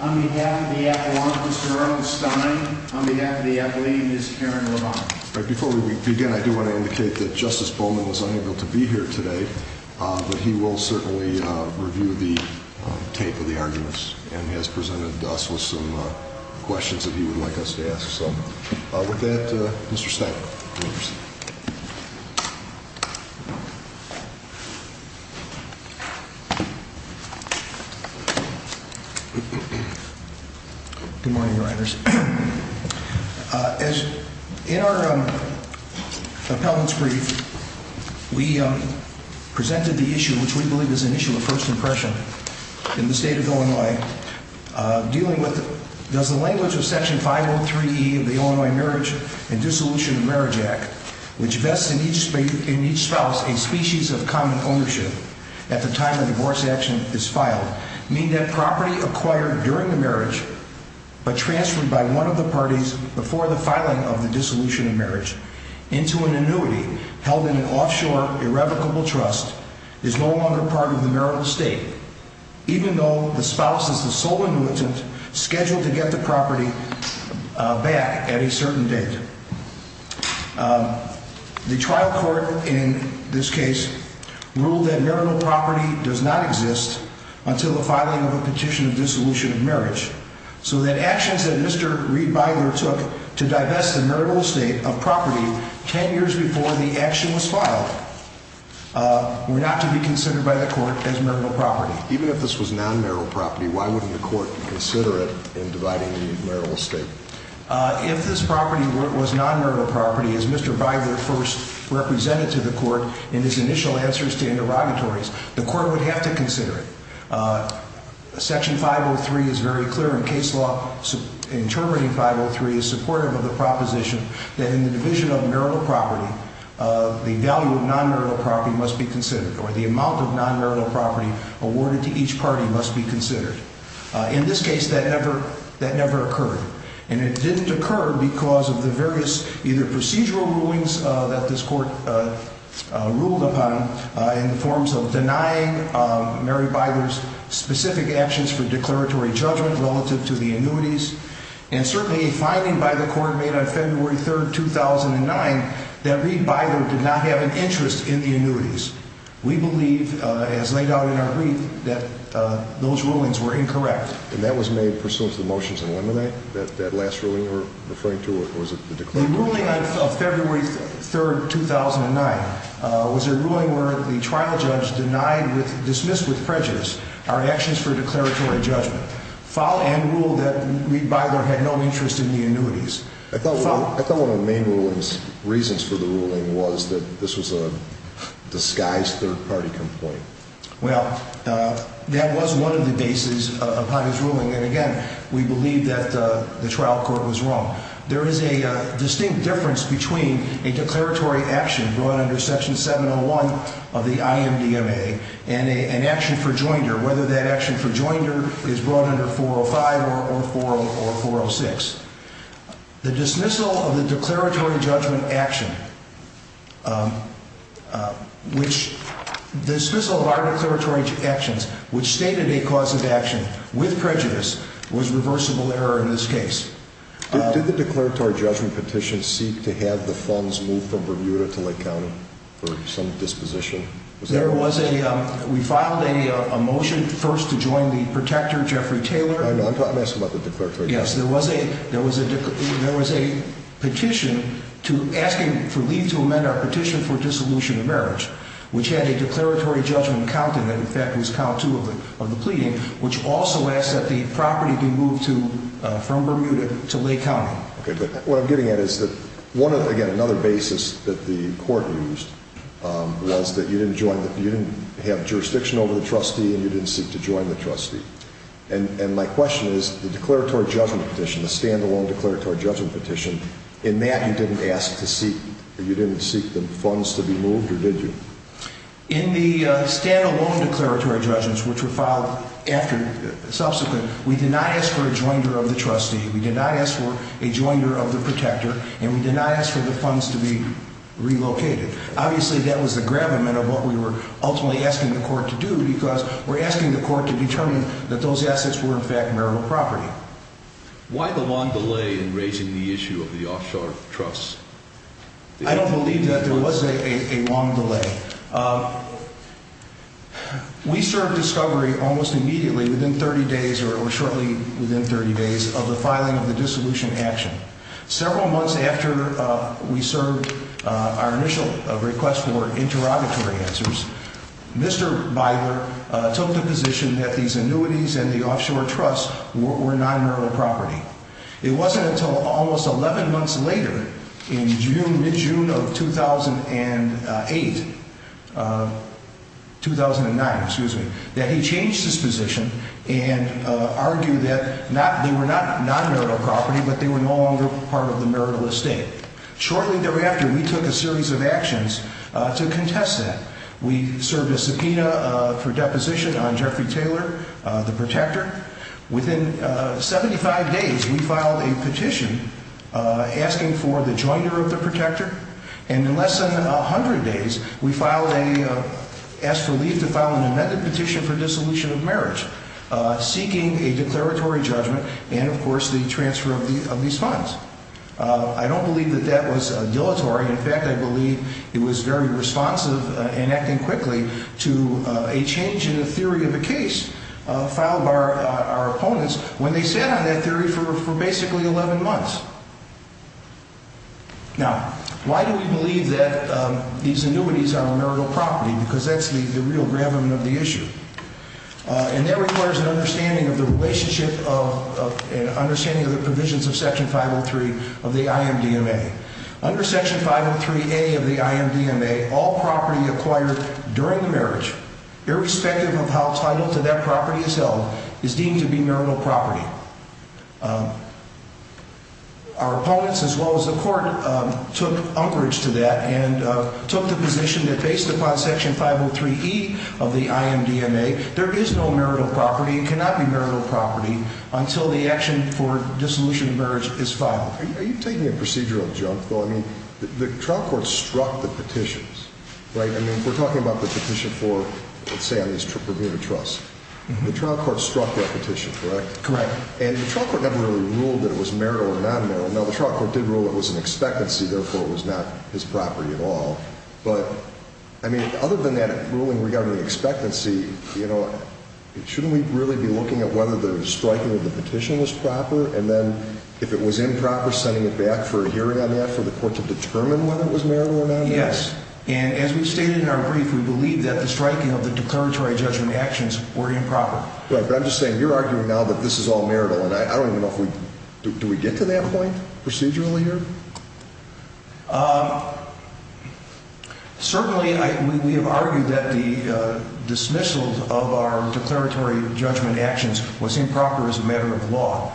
On behalf of the Appellant, Mr. Arnold Stein. On behalf of the Appellee, Ms. Karen Levine. Before we begin, I do want to indicate that Justice Bowman was unable to be here today. But he will certainly review the tape of the arguments and has presented us with some questions that he would like us to ask. So with that, Mr. Stein. Good morning, writers. As in our appellant's brief, we presented the issue which we believe is an issue of first impression in the state of Illinois. Dealing with does the language of Section 503E of the Illinois Marriage and Dissolution of Marriage Act, which vests in each spouse a species of common ownership at the time the divorce action is filed, mean that property acquired during the marriage but transferred by one of the parties before the filing of the dissolution of marriage into an annuity held in an offshore irrevocable trust is no longer part of the marital estate, even though the spouse is the sole annuitant scheduled to get the property back at a certain date. The trial court in this case ruled that marital property does not exist until the filing of a petition of dissolution of marriage, so that actions that Mr. Riedmeier took to divest the marital estate of property 10 years before the action was filed were not to be considered by the court as marital property. Even if this was non-marital property, why wouldn't the court consider it in dividing the marital estate? If this property was non-marital property, as Mr. Biber first represented to the court in his initial answers to interrogatories, the court would have to consider it. Section 503 is very clear in case law. Interpreting 503 is supportive of the proposition that in the division of marital property, the value of non-marital property must be considered or the amount of non-marital property awarded to each party must be considered. In this case, that never occurred. And it didn't occur because of the various either procedural rulings that this court ruled upon in the forms of denying Mary Bither's specific actions for declaratory judgment relative to the annuities and certainly a finding by the court made on February 3rd, 2009 that Reed Bither did not have an interest in the annuities. We believe, as laid out in our brief, that those rulings were incorrect. And that was made pursuant to the motions in Lemonade? That last ruling you were referring to, or was it the declaratory judgment? The ruling of February 3rd, 2009 was a ruling where the trial judge denied, dismissed with prejudice, our actions for declaratory judgment, filed and ruled that Reed Bither had no interest in the annuities. I thought one of the main reasons for the ruling was that this was a disguised third-party complaint. Well, that was one of the bases upon his ruling. And, again, we believe that the trial court was wrong. There is a distinct difference between a declaratory action brought under Section 701 of the IMDMA and an action for joinder, whether that action for joinder is brought under 405 or 406. The dismissal of the declaratory judgment action, which stated a cause of action with prejudice, was reversible error in this case. Did the declaratory judgment petition seek to have the funds moved from Bermuda to Lake County for some disposition? We filed a motion first to join the protector, Jeffrey Taylor. I know. I'm asking about the declaratory judgment. Yes, there was a petition asking for Lee to amend our petition for dissolution of marriage, which had a declaratory judgment counted and, in fact, was count two of the pleading, which also asked that the property be moved from Bermuda to Lake County. Okay, but what I'm getting at is that, again, another basis that the court used was that you didn't have jurisdiction over the trustee and you didn't seek to join the trustee. And my question is, the declaratory judgment petition, the stand-alone declaratory judgment petition, in that you didn't seek the funds to be moved or did you? In the stand-alone declaratory judgments, which were filed subsequent, we did not ask for a joinder of the trustee, we did not ask for a joinder of the protector, and we did not ask for the funds to be relocated. Obviously, that was the gravamen of what we were ultimately asking the court to do because we're asking the court to determine that those assets were, in fact, marital property. Why the long delay in raising the issue of the offshore trusts? I don't believe that there was a long delay. We served discovery almost immediately within 30 days or shortly within 30 days of the filing of the dissolution action. Several months after we served our initial request for interrogatory answers, Mr. Biber took the position that these annuities and the offshore trusts were non-marital property. It wasn't until almost 11 months later, in June, mid-June of 2008, 2009, excuse me, that he changed his position and argued that they were not non-marital property, but they were no longer part of the marital estate. Shortly thereafter, we took a series of actions to contest that. We served a subpoena for deposition on Jeffrey Taylor, the protector. Within 75 days, we filed a petition asking for the joinder of the protector, and in less than 100 days, we asked for leave to file an amended petition for dissolution of marriage, seeking a declaratory judgment and, of course, the transfer of these funds. I don't believe that that was dilatory. In fact, I believe it was very responsive and acting quickly to a change in the theory of a case filed by our opponents when they sat on that theory for basically 11 months. Now, why do we believe that these annuities are marital property? Because that's the real gravamen of the issue. And that requires an understanding of the relationship of, an understanding of the provisions of Section 503 of the IMDMA. Under Section 503A of the IMDMA, all property acquired during the marriage, irrespective of how title to that property is held, is deemed to be marital property. Our opponents, as well as the court, took umbrage to that and took the position that, based upon Section 503E of the IMDMA, there is no marital property, it cannot be marital property until the action for dissolution of marriage is filed. Are you taking a procedural jump, though? I mean, the trial court struck the petitions, right? I mean, we're talking about the petition for, let's say, on these premier trusts. The trial court struck that petition, correct? Correct. And the trial court never really ruled that it was marital or non-marital. Now, the trial court did rule it was an expectancy, therefore it was not his property at all. But, I mean, other than that ruling regarding expectancy, you know, shouldn't we really be looking at whether the striking of the petition was proper? And then, if it was improper, sending it back for a hearing on that for the court to determine whether it was marital or non-marital? Yes. And as we stated in our brief, we believe that the striking of the declaratory judgment actions were improper. Right. But I'm just saying, you're arguing now that this is all marital, and I don't even know if we— do we get to that point procedurally here? Certainly, we have argued that the dismissal of our declaratory judgment actions was improper as a matter of law,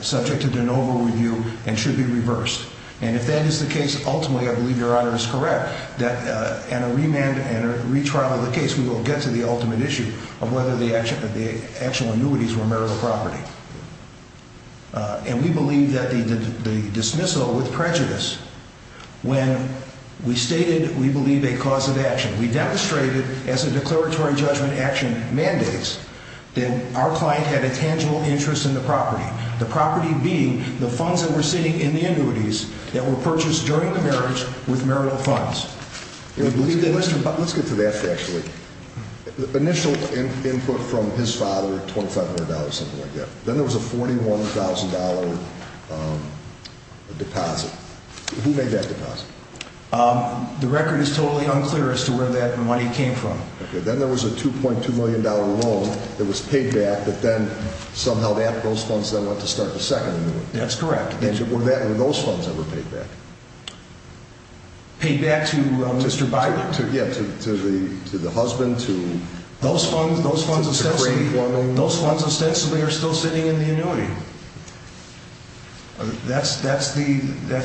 subject to de novo review, and should be reversed. And if that is the case, ultimately, I believe Your Honor is correct, that in a remand and a retrial of the case, we will get to the ultimate issue of whether the actual annuities were marital property. And we believe that the dismissal with prejudice, when we stated we believe a cause of action, we demonstrated as a declaratory judgment action mandates that our client had a tangible interest in the property, the property being the funds that were sitting in the annuities that were purchased during the marriage with marital funds. Let's get to that, actually. Initial input from his father, $2,500, something like that. Then there was a $41,000 deposit. Who made that deposit? The record is totally unclear as to where that money came from. Then there was a $2.2 million loan that was paid back, but then somehow those funds then went to start the second annuity. That's correct. Were those funds ever paid back? Paid back to Mr. Byler? Yeah, to the husband, to the great woman. Those funds ostensibly are still sitting in the annuity. That's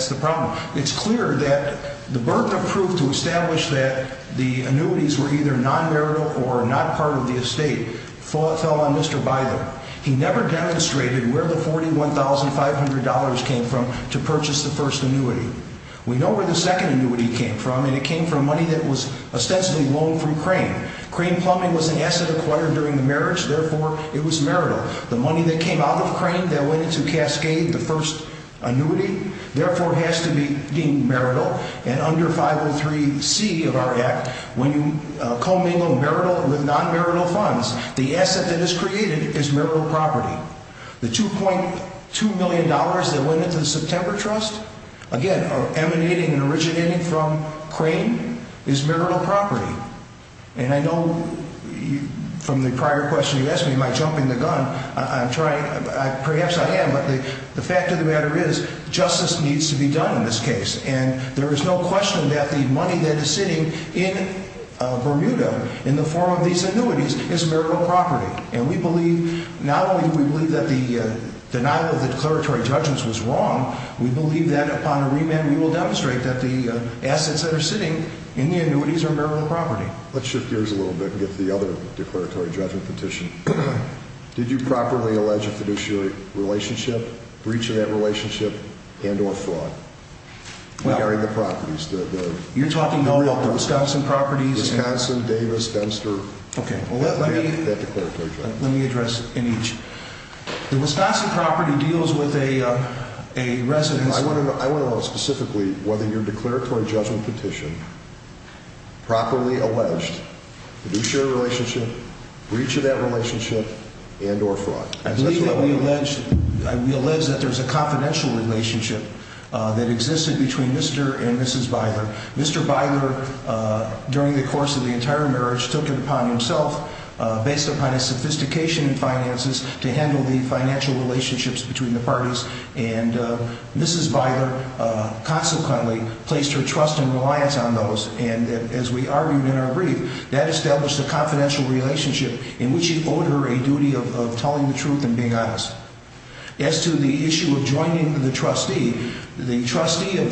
the problem. It's clear that the birth of proof to establish that the annuities were either non-marital or not part of the estate fell on Mr. Byler. He never demonstrated where the $41,500 came from to purchase the first annuity. We know where the second annuity came from, and it came from money that was ostensibly loaned from Crane. Crane Plumbing was an asset acquired during the marriage, therefore it was marital. The money that came out of Crane that went into Cascade, the first annuity, therefore has to be deemed marital. Under 503C of our Act, when you commingle marital with non-marital funds, the asset that is created is marital property. The $2.2 million that went into the September Trust, again emanating and originating from Crane, is marital property. I know from the prior question you asked me, am I jumping the gun? Perhaps I am, but the fact of the matter is justice needs to be done in this case. There is no question that the money that is sitting in Bermuda in the form of these annuities is marital property. And we believe, not only do we believe that the denial of the declaratory judgments was wrong, we believe that upon a remand we will demonstrate that the assets that are sitting in the annuities are marital property. Let's shift gears a little bit and get to the other declaratory judgment petition. Did you properly allege a fiduciary relationship, breach of that relationship, and or fraud? You're talking about the Wisconsin properties? Wisconsin, Davis, Dempster. Let me address each. The Wisconsin property deals with a residence... I want to know specifically whether your declaratory judgment petition properly alleged fiduciary relationship, breach of that relationship, and or fraud. I believe that we allege that there is a confidential relationship that existed between Mr. and Mrs. Beiler. Mr. Beiler, during the course of the entire marriage, took it upon himself, based upon his sophistication in finances, to handle the financial relationships between the parties. And Mrs. Beiler, consequently, placed her trust and reliance on those. And as we argued in our brief, that established a confidential relationship in which he owed her a duty of telling the truth and being honest. As to the issue of joining the trustee, the trustee of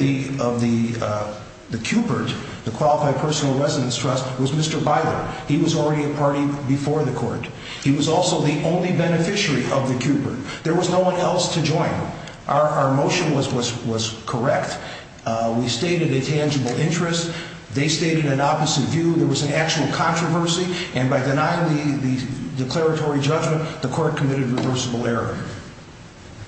the Cupert, the Qualified Personal Residence Trust, was Mr. Beiler. He was already a party before the court. He was also the only beneficiary of the Cupert. There was no one else to join. Our motion was correct. We stated a tangible interest. They stated an opposite view. There was an actual controversy. And by denying the declaratory judgment, the court committed a reversible error.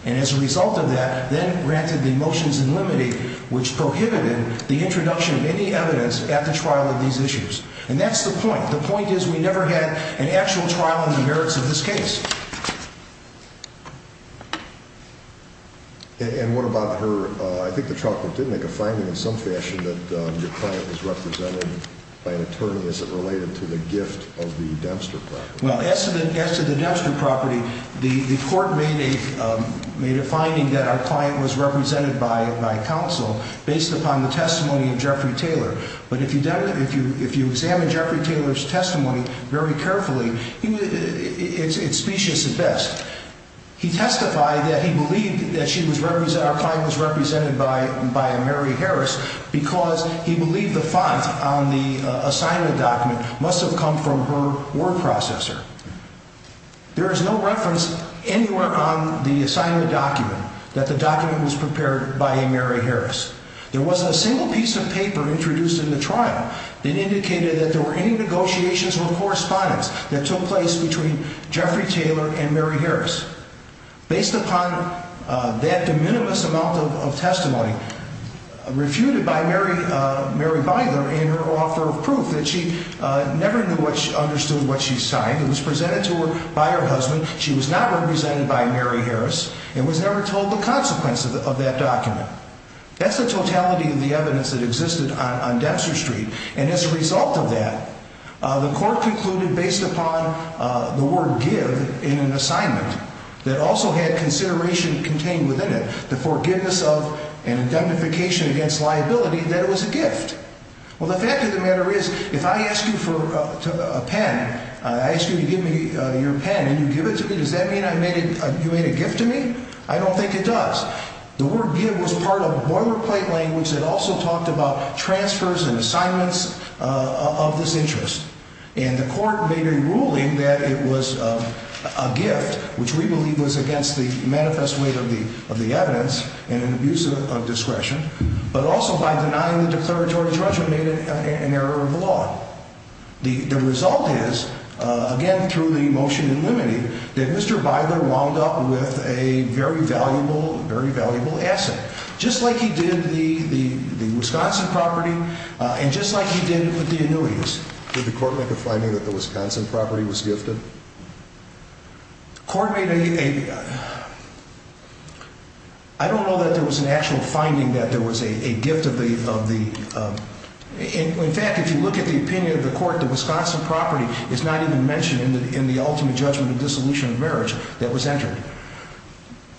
And as a result of that, then granted the motions in limine, which prohibited the introduction of any evidence at the trial of these issues. And that's the point. The point is we never had an actual trial on the merits of this case. And what about her? I think the trial court did make a finding in some fashion that your client was represented by an attorney. Is it related to the gift of the Dempster property? Well, as to the Dempster property, the court made a finding that our client was represented by counsel based upon the testimony of Jeffrey Taylor. But if you examine Jeffrey Taylor's testimony very carefully, it's specious at best. He testified that he believed that our client was represented by a Mary Harris because he believed the font on the assignment document must have come from her word processor. There is no reference anywhere on the assignment document that the document was prepared by a Mary Harris. There wasn't a single piece of paper introduced in the trial that indicated that there were any negotiations or correspondence that took place between Jeffrey Taylor and Mary Harris. Based upon that de minimis amount of testimony refuted by Mary, Mary Byler and her author of proof that she never knew what she understood what she signed. It was presented to her by her husband. She was not represented by Mary Harris and was never told the consequences of that document. That's the totality of the evidence that existed on Dempster Street. And as a result of that, the court concluded based upon the word give in an assignment that also had consideration contained within it. The forgiveness of an indemnification against liability that it was a gift. Well, the fact of the matter is, if I ask you for a pen, I ask you to give me your pen and you give it to me. Does that mean you made a gift to me? I don't think it does. The word give was part of boilerplate language that also talked about transfers and assignments of this interest. And the court made a ruling that it was a gift, which we believe was against the manifest weight of the of the evidence and an abuse of discretion, but also by denying the declaratory judgment made it an error of the law. The result is, again, through the motion in limiting that Mr. Byler wound up with a very valuable, very valuable asset, just like he did the Wisconsin property and just like he did with the annuities. Did the court make a finding that the Wisconsin property was gifted? I don't know that there was an actual finding that there was a gift of the of the. In fact, if you look at the opinion of the court, the Wisconsin property is not even mentioned in the in the ultimate judgment of dissolution of marriage that was entered.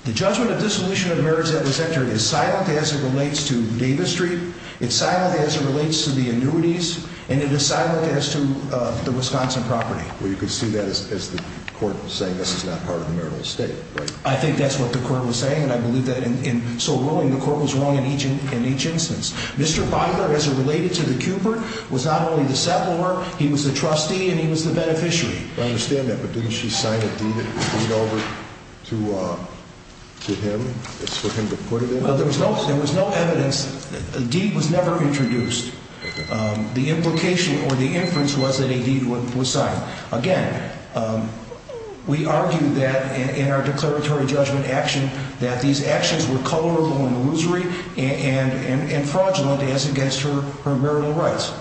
The judgment of dissolution of marriage that was entered is silent as it relates to Davis Street. It's silent as it relates to the annuities, and it is silent as to the Wisconsin property. Well, you could see that as the court saying this is not part of the marital estate. I think that's what the court was saying. And I believe that in so ruling the court was wrong in each in each instance. Mr. Byler, as it related to the Cupert, was not only the settler. He was a trustee and he was the beneficiary. I understand that. But didn't she sign a deed over to him for him to put it in? There was no evidence. A deed was never introduced. The implication or the inference was that a deed was signed. Again, we argue that in our declaratory judgment action that these actions were colorable and illusory and fraudulent as against her marital rights.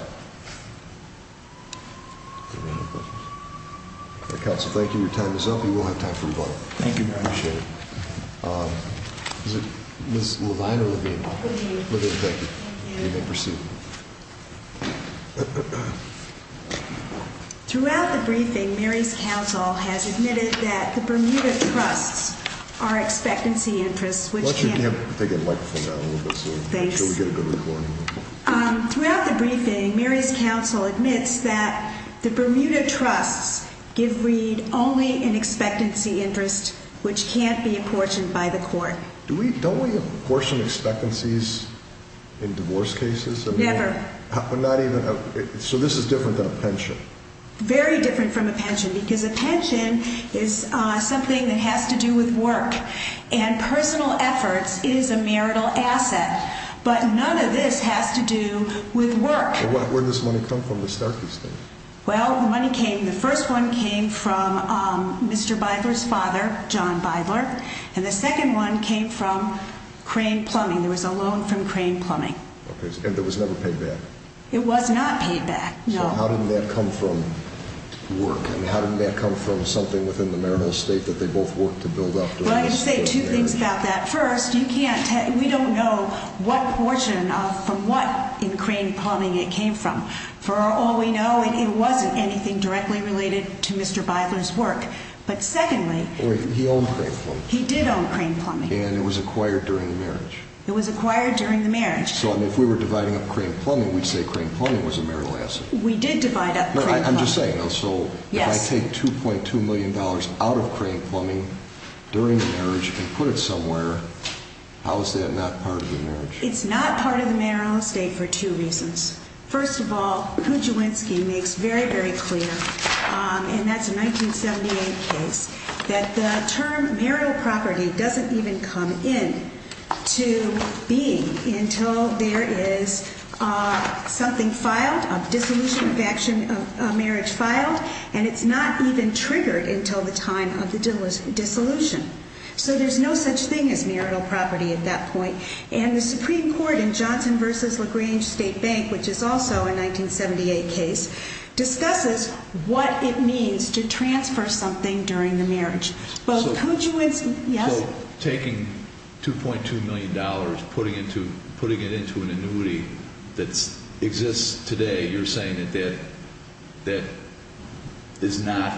Council, thank you. Your time is up. You will have time for rebuttal. Thank you. Appreciate it. Is it Miss Levine or Levine? Thank you. You may proceed. Throughout the briefing, Mary's council has admitted that the Bermuda Trusts are expectancy interests. Throughout the briefing, Mary's council admits that the Bermuda Trusts give read only in expectancy interest, which can't be apportioned by the court. Don't we apportion expectancies in divorce cases? Never. So this is different than a pension? Very different from a pension because a pension is something that has to do with work. And personal efforts is a marital asset. But none of this has to do with work. Where did this money come from to start these things? Well, the money came, the first one came from Mr. Bidler's father, John Bidler. And the second one came from Crane Plumbing. There was a loan from Crane Plumbing. And it was never paid back? It was not paid back, no. So how did that come from work? And how did that come from something within the marital estate that they both worked to build up? Well, I can say two things about that. First, we don't know what portion from what in Crane Plumbing it came from. For all we know, it wasn't anything directly related to Mr. Bidler's work. But secondly, he did own Crane Plumbing. And it was acquired during the marriage? It was acquired during the marriage. So if we were dividing up Crane Plumbing, we'd say Crane Plumbing was a marital asset? We did divide up Crane Plumbing. I'm just saying though, so if I take $2.2 million out of Crane Plumbing during the marriage and put it somewhere, how is that not part of the marriage? It's not part of the marital estate for two reasons. First of all, Kuczywinski makes very, very clear, and that's a 1978 case, that the term marital property doesn't even come into being until there is something filed, a dissolution of marriage filed. And it's not even triggered until the time of the dissolution. So there's no such thing as marital property at that point. And the Supreme Court in Johnson v. LaGrange State Bank, which is also a 1978 case, discusses what it means to transfer something during the marriage. So taking $2.2 million, putting it into an annuity that exists today, you're saying that that is not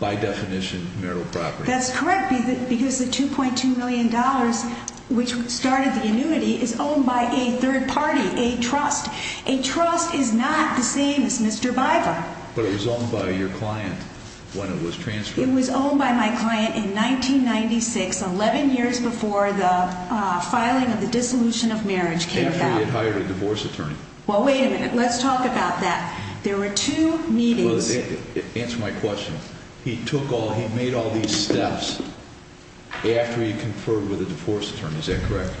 by definition marital property? That's correct, because the $2.2 million, which started the annuity, is owned by a third party, a trust. A trust is not the same as Mr. Biver. But it was owned by your client when it was transferred? It was owned by my client in 1996, 11 years before the filing of the dissolution of marriage came about. After he had hired a divorce attorney. Well, wait a minute. Let's talk about that. There were two meetings. Answer my question. He made all these steps after he conferred with a divorce attorney. Is that correct?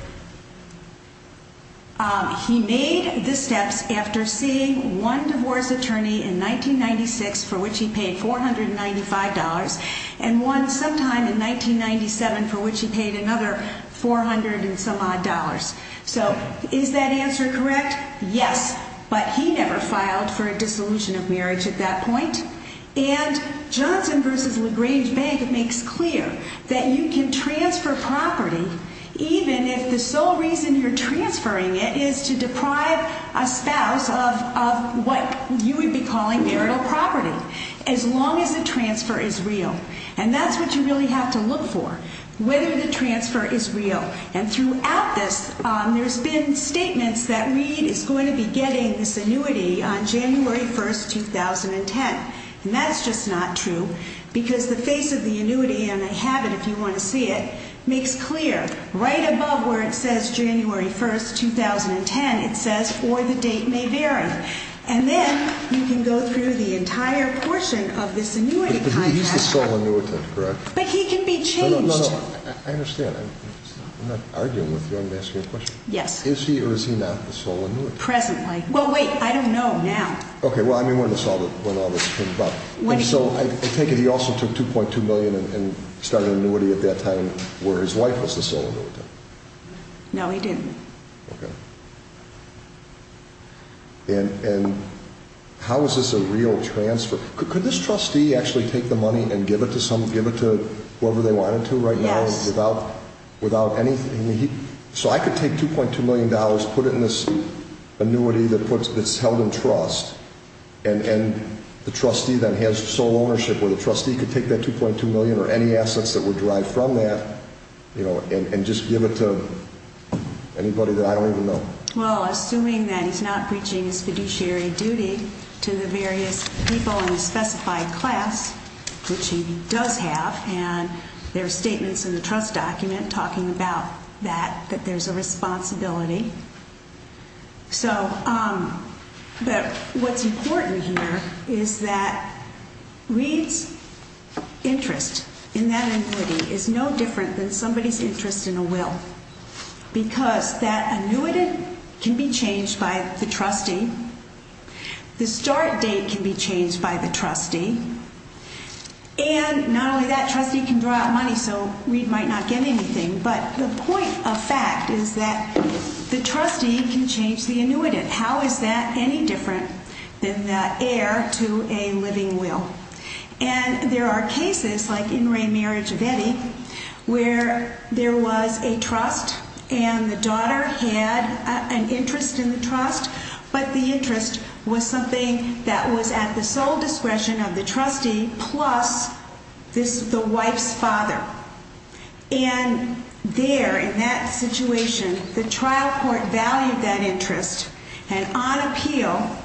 He made the steps after seeing one divorce attorney in 1996 for which he paid $495 and one sometime in 1997 for which he paid another $400 and some odd dollars. So is that answer correct? Yes, but he never filed for a dissolution of marriage at that point. And Johnson v. LaGrange Bank makes clear that you can transfer property even if the sole reason you're transferring it is to deprive a spouse of what you would be calling marital property, as long as the transfer is real. And that's what you really have to look for, whether the transfer is real. And throughout this, there's been statements that Reid is going to be getting this annuity on January 1, 2010. And that's just not true, because the face of the annuity, and I have it if you want to see it, makes clear, right above where it says January 1, 2010, it says, or the date may vary. And then you can go through the entire portion of this annuity contract. But he's the sole annuitant, correct? But he can be changed. No, no, no, I understand. I'm not arguing with you. I'm asking you a question. Yes. Is he or is he not the sole annuitant? Presently. Well, wait, I don't know now. Okay, well, I mean, we're going to solve it when all this comes about. And so I take it he also took $2.2 million and started an annuity at that time where his wife was the sole annuitant. No, he didn't. Okay. And how is this a real transfer? Could this trustee actually take the money and give it to whoever they wanted to right now without anything? So I could take $2.2 million, put it in this annuity that's held in trust, and the trustee then has sole ownership, or the trustee could take that $2.2 million or any assets that were derived from that, you know, and just give it to anybody that I don't even know. Well, assuming that he's not breaching his fiduciary duty to the various people in the specified class, which he does have, and there are statements in the trust document talking about that, that there's a responsibility. So what's important here is that Reed's interest in that annuity is no different than somebody's interest in a will because that annuitant can be changed by the trustee. The start date can be changed by the trustee. And not only that, trustee can draw out money so Reed might not get anything. But the point of fact is that the trustee can change the annuitant. How is that any different than the heir to a living will? And there are cases like in re-marriage of Eddie where there was a trust and the daughter had an interest in the trust, but the interest was something that was at the sole discretion of the trustee plus the wife's father. And there, in that situation, the trial court valued that interest. And on appeal,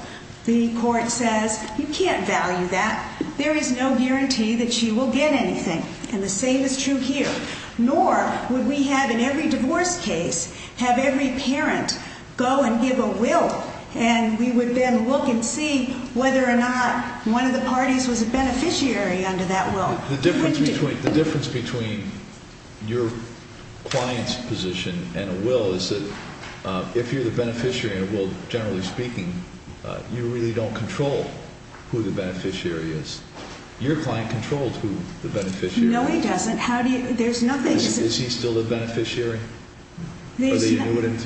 the court says, you can't value that. There is no guarantee that she will get anything. And the same is true here. Nor would we have in every divorce case have every parent go and give a will, and we would then look and see whether or not one of the parties was a beneficiary under that will. The difference between your client's position and a will is that if you're the beneficiary in a will, generally speaking, you really don't control who the beneficiary is. Your client controls who the beneficiary is. No, he doesn't. There's nothing. Is he still the beneficiary or the annuitant?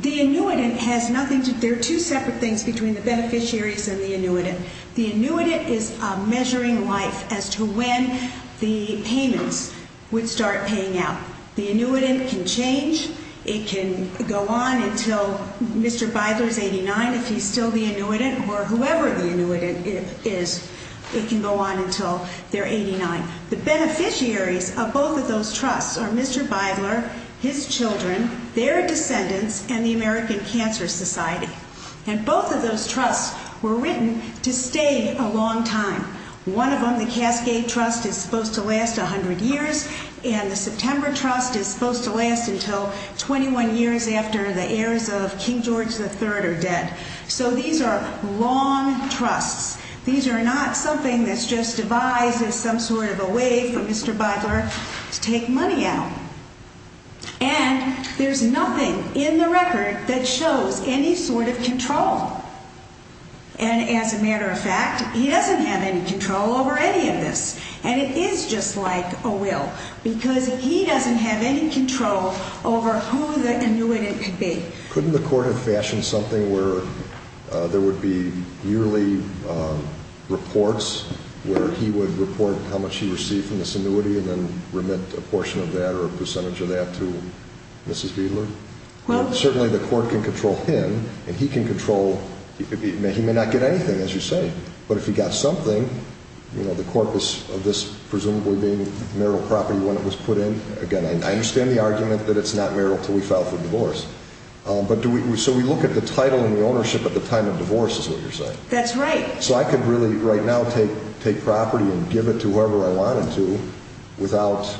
The annuitant has nothing to do. There are two separate things between the beneficiaries and the annuitant. The annuitant is measuring life as to when the payments would start paying out. The annuitant can change. It can go on until Mr. Beidler is 89, if he's still the annuitant, or whoever the annuitant is. It can go on until they're 89. The beneficiaries of both of those trusts are Mr. Beidler, his children, their descendants, and the American Cancer Society. And both of those trusts were written to stay a long time. One of them, the Cascade Trust, is supposed to last 100 years, and the September Trust is supposed to last until 21 years after the heirs of King George III are dead. So these are long trusts. These are not something that's just devised as some sort of a way for Mr. Beidler to take money out. And there's nothing in the record that shows any sort of control. And as a matter of fact, he doesn't have any control over any of this. And it is just like a will, because he doesn't have any control over who the annuitant could be. Couldn't the court have fashioned something where there would be yearly reports, where he would report how much he received from this annuity and then remit a portion of that or a percentage of that to Mrs. Beidler? Well, certainly the court can control him, and he can control—he may not get anything, as you say. But if he got something, you know, the corpus of this presumably being marital property when it was put in, again, I understand the argument that it's not marital until we file for divorce. But do we—so we look at the title and the ownership at the time of divorce, is what you're saying. That's right. So I could really right now take property and give it to whoever I wanted to without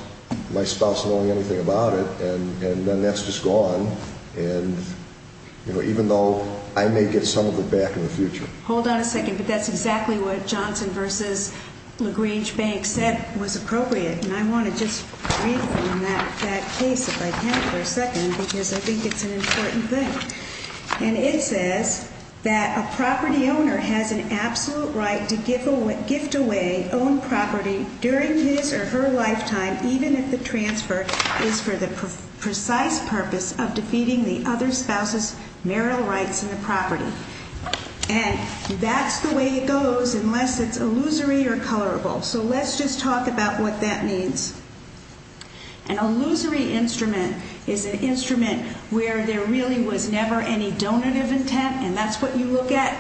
my spouse knowing anything about it, and then that's just gone, even though I may get some of it back in the future. Hold on a second, but that's exactly what Johnson v. LaGrange Bank said was appropriate. And I want to just read from that case, if I can, for a second, because I think it's an important thing. And it says that a property owner has an absolute right to gift away owned property during his or her lifetime, even if the transfer is for the precise purpose of defeating the other spouse's marital rights in the property. And that's the way it goes unless it's illusory or colorable. So let's just talk about what that means. An illusory instrument is an instrument where there really was never any donative intent, and that's what you look at.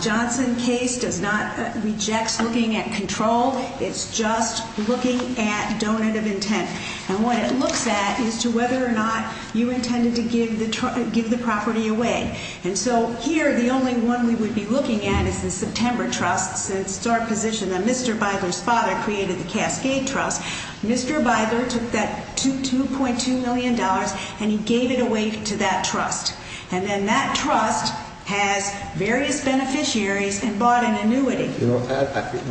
Johnson case does not—rejects looking at control. It's just looking at donative intent. And what it looks at is to whether or not you intended to give the property away. And so here, the only one we would be looking at is the September Trust. It's our position that Mr. Bidler's father created the Cascade Trust. Mr. Bidler took that $2.2 million, and he gave it away to that trust. And then that trust has various beneficiaries and bought an annuity.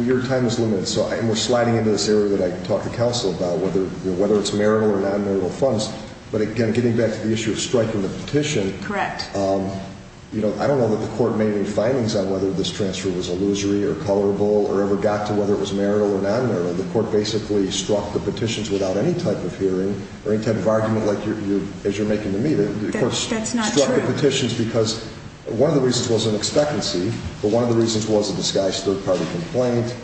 Your time is limited, so we're sliding into this area that I talk to counsel about, whether it's marital or non-marital funds. But again, getting back to the issue of striking the petition. Correct. You know, I don't know that the court made any findings on whether this transfer was illusory or colorable or ever got to whether it was marital or non-marital. The court basically struck the petitions without any type of hearing or any type of argument like you're making to me. That's not true. The court struck the petitions because one of the reasons was an expectancy, but one of the reasons was a disguised third-party complaint,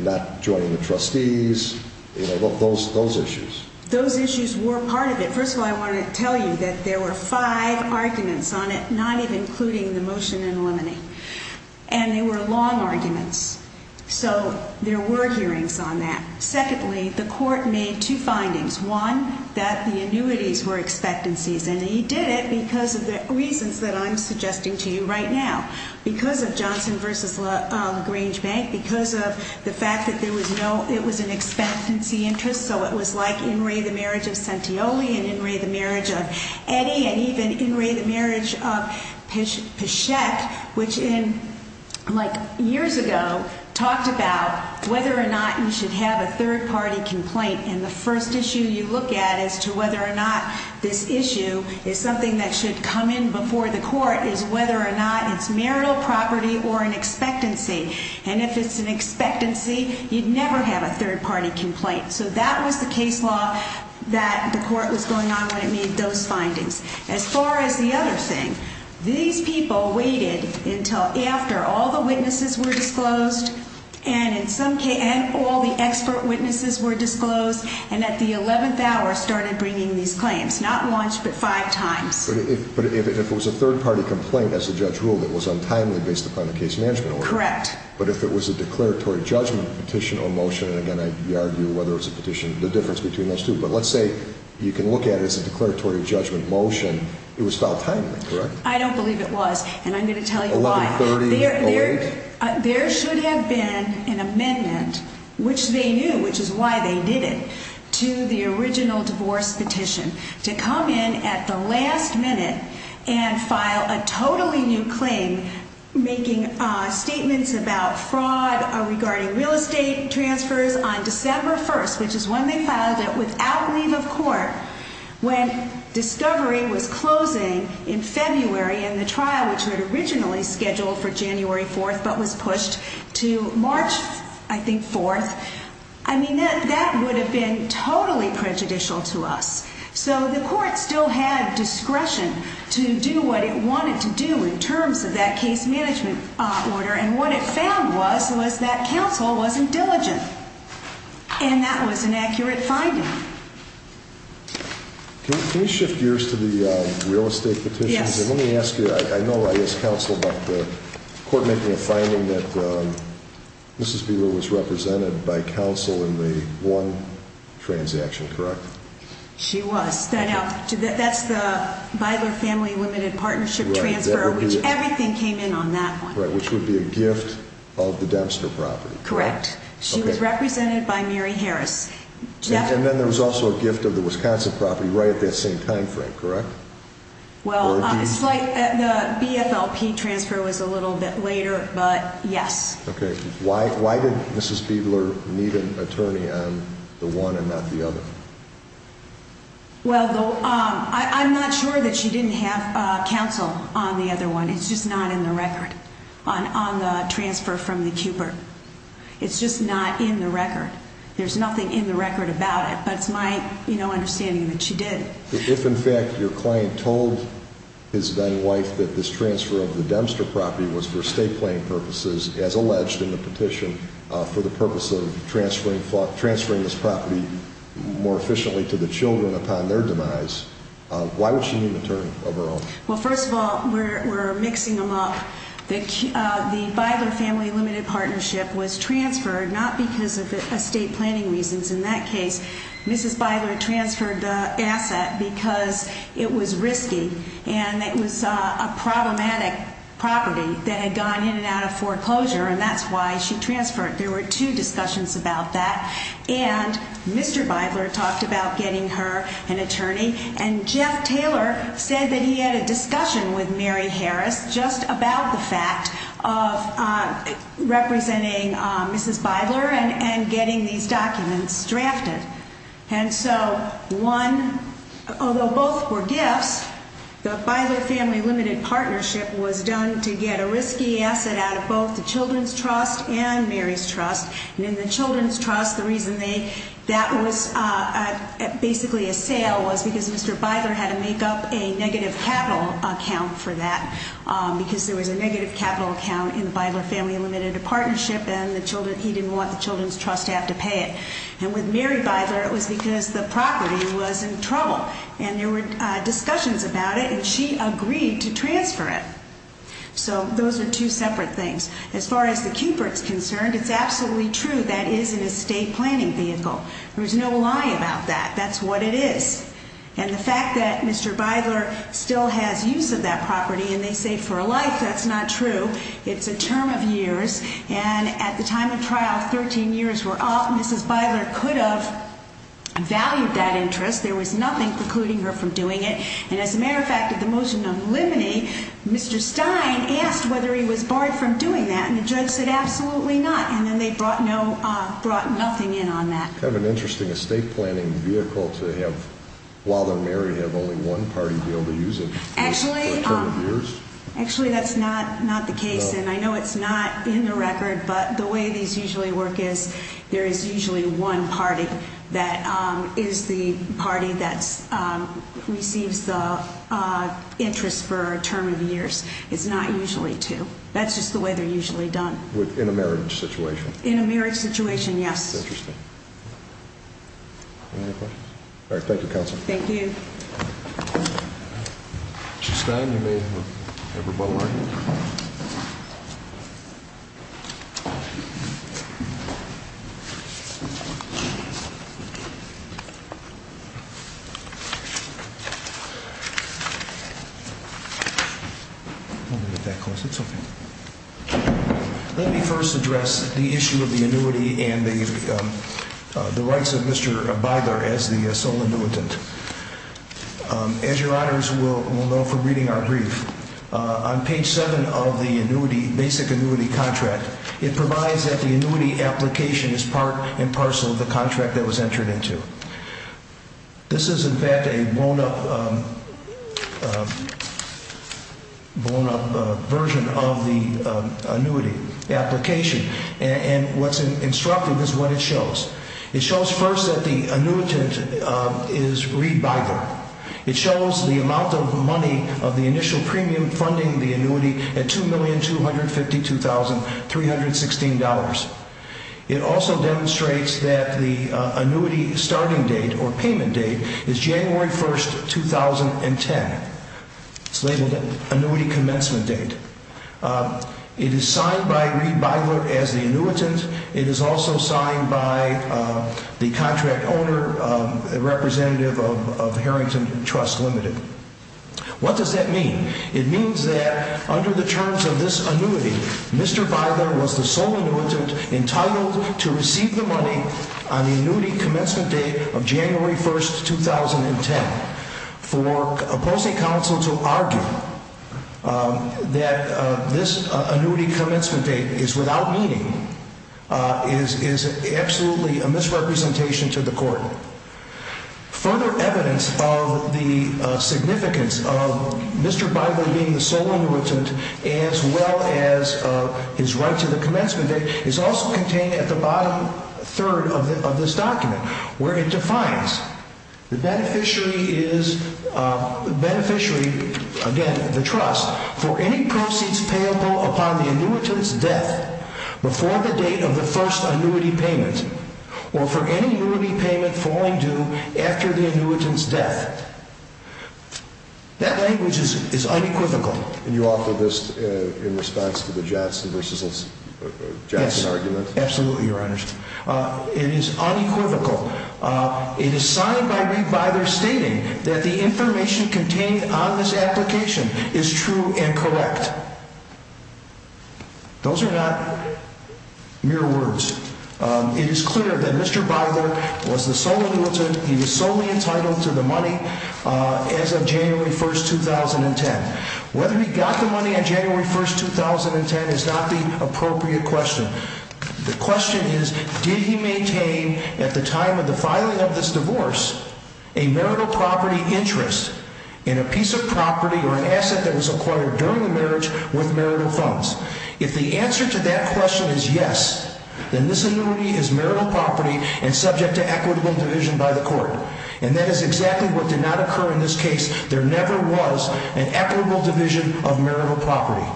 not joining the trustees, you know, those issues. Those issues were part of it. First of all, I want to tell you that there were five arguments on it, not even including the motion in limine. And they were long arguments. So there were hearings on that. Secondly, the court made two findings. One, that the annuities were expectancies. And he did it because of the reasons that I'm suggesting to you right now. Because of Johnson v. Grange Bank, because of the fact that there was no ‑‑ it was an expectancy interest, so it was like in re the marriage of Sentioli and in re the marriage of Eddy and even in re the marriage of Peschette, which in, like, years ago, talked about whether or not you should have a third-party complaint. And the first issue you look at as to whether or not this issue is something that should come in before the court is whether or not it's marital property or an expectancy. And if it's an expectancy, you'd never have a third-party complaint. So that was the case law that the court was going on when it made those findings. As far as the other thing, these people waited until after all the witnesses were disclosed and in some cases ‑‑ and all the expert witnesses were disclosed and at the 11th hour started bringing these claims. Not once, but five times. But if it was a third-party complaint, as the judge ruled, it was untimely based upon the case management order. Correct. But if it was a declaratory judgment petition or motion, and again, I argue whether it's a petition, the difference between those two. But let's say you can look at it as a declaratory judgment motion. It was filed timely, correct? I don't believe it was. And I'm going to tell you why. 113008? There should have been an amendment, which they knew, which is why they did it, to the original divorce petition. To come in at the last minute and file a totally new claim making statements about fraud regarding real estate transfers on December 1st, which is when they filed it, without leave of court. When discovery was closing in February and the trial, which was originally scheduled for January 4th but was pushed to March, I think, 4th, I mean, that would have been totally prejudicial to us. So the court still had discretion to do what it wanted to do in terms of that case management order. And what it found was, was that counsel wasn't diligent. And that was an accurate finding. Can you shift gears to the real estate petition? Yes. And let me ask you, I know I asked counsel about the court making a finding that Mrs. Bieler was represented by counsel in the one transaction, correct? She was. Now, that's the Bieler Family Limited Partnership transfer, which everything came in on that one. Right, which would be a gift of the Dempster property. Correct. She was represented by Mary Harris. And then there was also a gift of the Wisconsin property right at that same time frame, correct? Well, the BFLP transfer was a little bit later, but yes. Okay. Why did Mrs. Bieler need an attorney on the one and not the other? Well, I'm not sure that she didn't have counsel on the other one. It's just not in the record on the transfer from the Cooper. It's just not in the record. There's nothing in the record about it, but it's my understanding that she did. If, in fact, your client told his then wife that this transfer of the Dempster property was for estate planning purposes, as alleged in the petition for the purpose of transferring this property more efficiently to the children upon their demise, why would she need an attorney of her own? Well, first of all, we're mixing them up. The Bieler Family Limited Partnership was transferred not because of estate planning reasons. In that case, Mrs. Bieler transferred the asset because it was risky and it was a problematic property that had gone in and out of foreclosure, and that's why she transferred. There were two discussions about that, and Mr. Bieler talked about getting her an attorney, and Jeff Taylor said that he had a discussion with Mary Harris just about the fact of representing Mrs. Bieler and getting these documents drafted. And so one, although both were gifts, the Bieler Family Limited Partnership was done to get a risky asset out of both the Children's Trust and Mary's Trust, and in the Children's Trust, the reason that was basically a sale was because Mr. Bieler had to make up a negative capital account for that because there was a negative capital account in the Bieler Family Limited Partnership, and he didn't want the Children's Trust to have to pay it. And with Mary Bieler, it was because the property was in trouble, and there were discussions about it, and she agreed to transfer it. So those are two separate things. As far as the Cupert's concerned, it's absolutely true that it is an estate planning vehicle. There's no lie about that. That's what it is. And the fact that Mr. Bieler still has use of that property, and they say for a life, that's not true. It's a term of years. And at the time of trial, 13 years were up. Mrs. Bieler could have valued that interest. There was nothing precluding her from doing it. And as a matter of fact, at the motion of limine, Mr. Stein asked whether he was barred from doing that, and the judge said absolutely not, and then they brought nothing in on that. Is it kind of an interesting estate planning vehicle to have, while they're married, have only one party be able to use it for a term of years? Actually, that's not the case. And I know it's not in the record, but the way these usually work is there is usually one party that is the party that receives the interest for a term of years. It's not usually two. That's just the way they're usually done. In a marriage situation? In a marriage situation, yes. That's interesting. Any other questions? All right. Thank you, Counselor. Thank you. Mrs. Stein, you may have your butt line. Don't get that close. It's okay. Let me first address the issue of the annuity and the rights of Mr. Byler as the sole annuitant. As your honors will know from reading our brief, on page 7 of the basic annuity contract, it provides that the annuity application is part and parcel of the contract that was entered into. This is, in fact, a blown-up version of the annuity application. And what's instructive is what it shows. It shows first that the annuitant is Reid Byler. It shows the amount of money of the initial premium funding the annuity at $2,252,316. It also demonstrates that the annuity starting date or payment date is January 1, 2010. It's labeled Annuity Commencement Date. It is signed by Reid Byler as the annuitant. It is also signed by the contract owner, a representative of Harrington Trust Limited. What does that mean? It means that under the terms of this annuity, Mr. Byler was the sole annuitant entitled to receive the money on the annuity commencement date of January 1, 2010. For opposing counsel to argue that this annuity commencement date is without meaning is absolutely a misrepresentation to the court. Further evidence of the significance of Mr. Byler being the sole annuitant as well as his right to the commencement date is also contained at the bottom third of this document, where it defines the beneficiary, again, the trust, for any proceeds payable upon the annuitant's death before the date of the first annuity payment or for any annuity payment falling due after the annuitant's death. That language is unequivocal. And you offer this in response to the Jadsen vs. Jadsen argument? Yes, absolutely, Your Honor. It is unequivocal. It is signed by Reed Byler stating that the information contained on this application is true and correct. Those are not mere words. It is clear that Mr. Byler was the sole annuitant. He was solely entitled to the money as of January 1, 2010. Whether he got the money on January 1, 2010 is not the appropriate question. The question is, did he maintain at the time of the filing of this divorce a marital property interest in a piece of property or an asset that was acquired during the marriage with marital funds? If the answer to that question is yes, then this annuity is marital property and subject to equitable division by the court. And that is exactly what did not occur in this case. There never was an equitable division of marital property.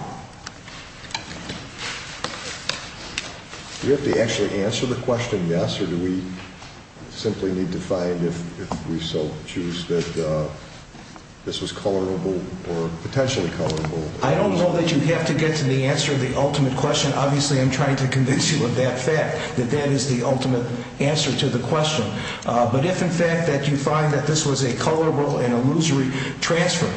Do we have to actually answer the question yes, or do we simply need to find if we so choose that this was colorable or potentially colorable? I don't know that you have to get to the answer to the ultimate question. Obviously, I'm trying to convince you of that fact, that that is the ultimate answer to the question. But if, in fact, that you find that this was a colorable and illusory transfer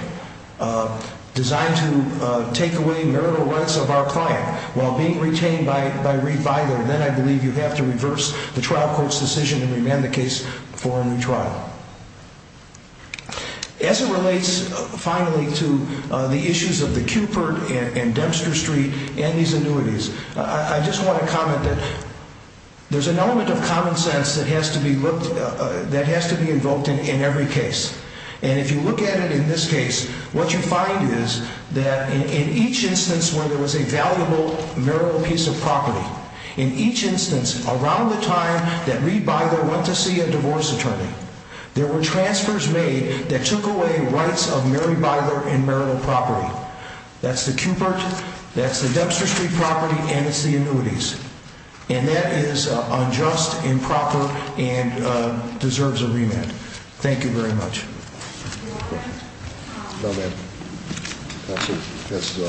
designed to take away marital rights of our client while being retained by Reed Byler, then I believe you have to reverse the trial court's decision and remand the case for a new trial. As it relates, finally, to the issues of the Cupert and Dempster Street and these annuities, I just want to comment that there's an element of common sense that has to be invoked in every case. And if you look at it in this case, what you find is that in each instance where there was a valuable marital piece of property, in each instance around the time that Reed Byler went to see a divorce attorney, there were transfers made that took away rights of Mary Byler and marital property. That's the Cupert, that's the Dempster Street property, and it's the annuities. And that is unjust, improper, and deserves a remand. Thank you very much. No, ma'am. That's it. That's the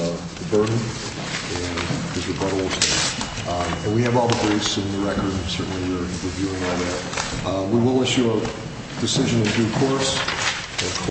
burden and his rebuttal. And we have all the briefs in the record. Certainly we're reviewing all that. We will issue a decision in due course.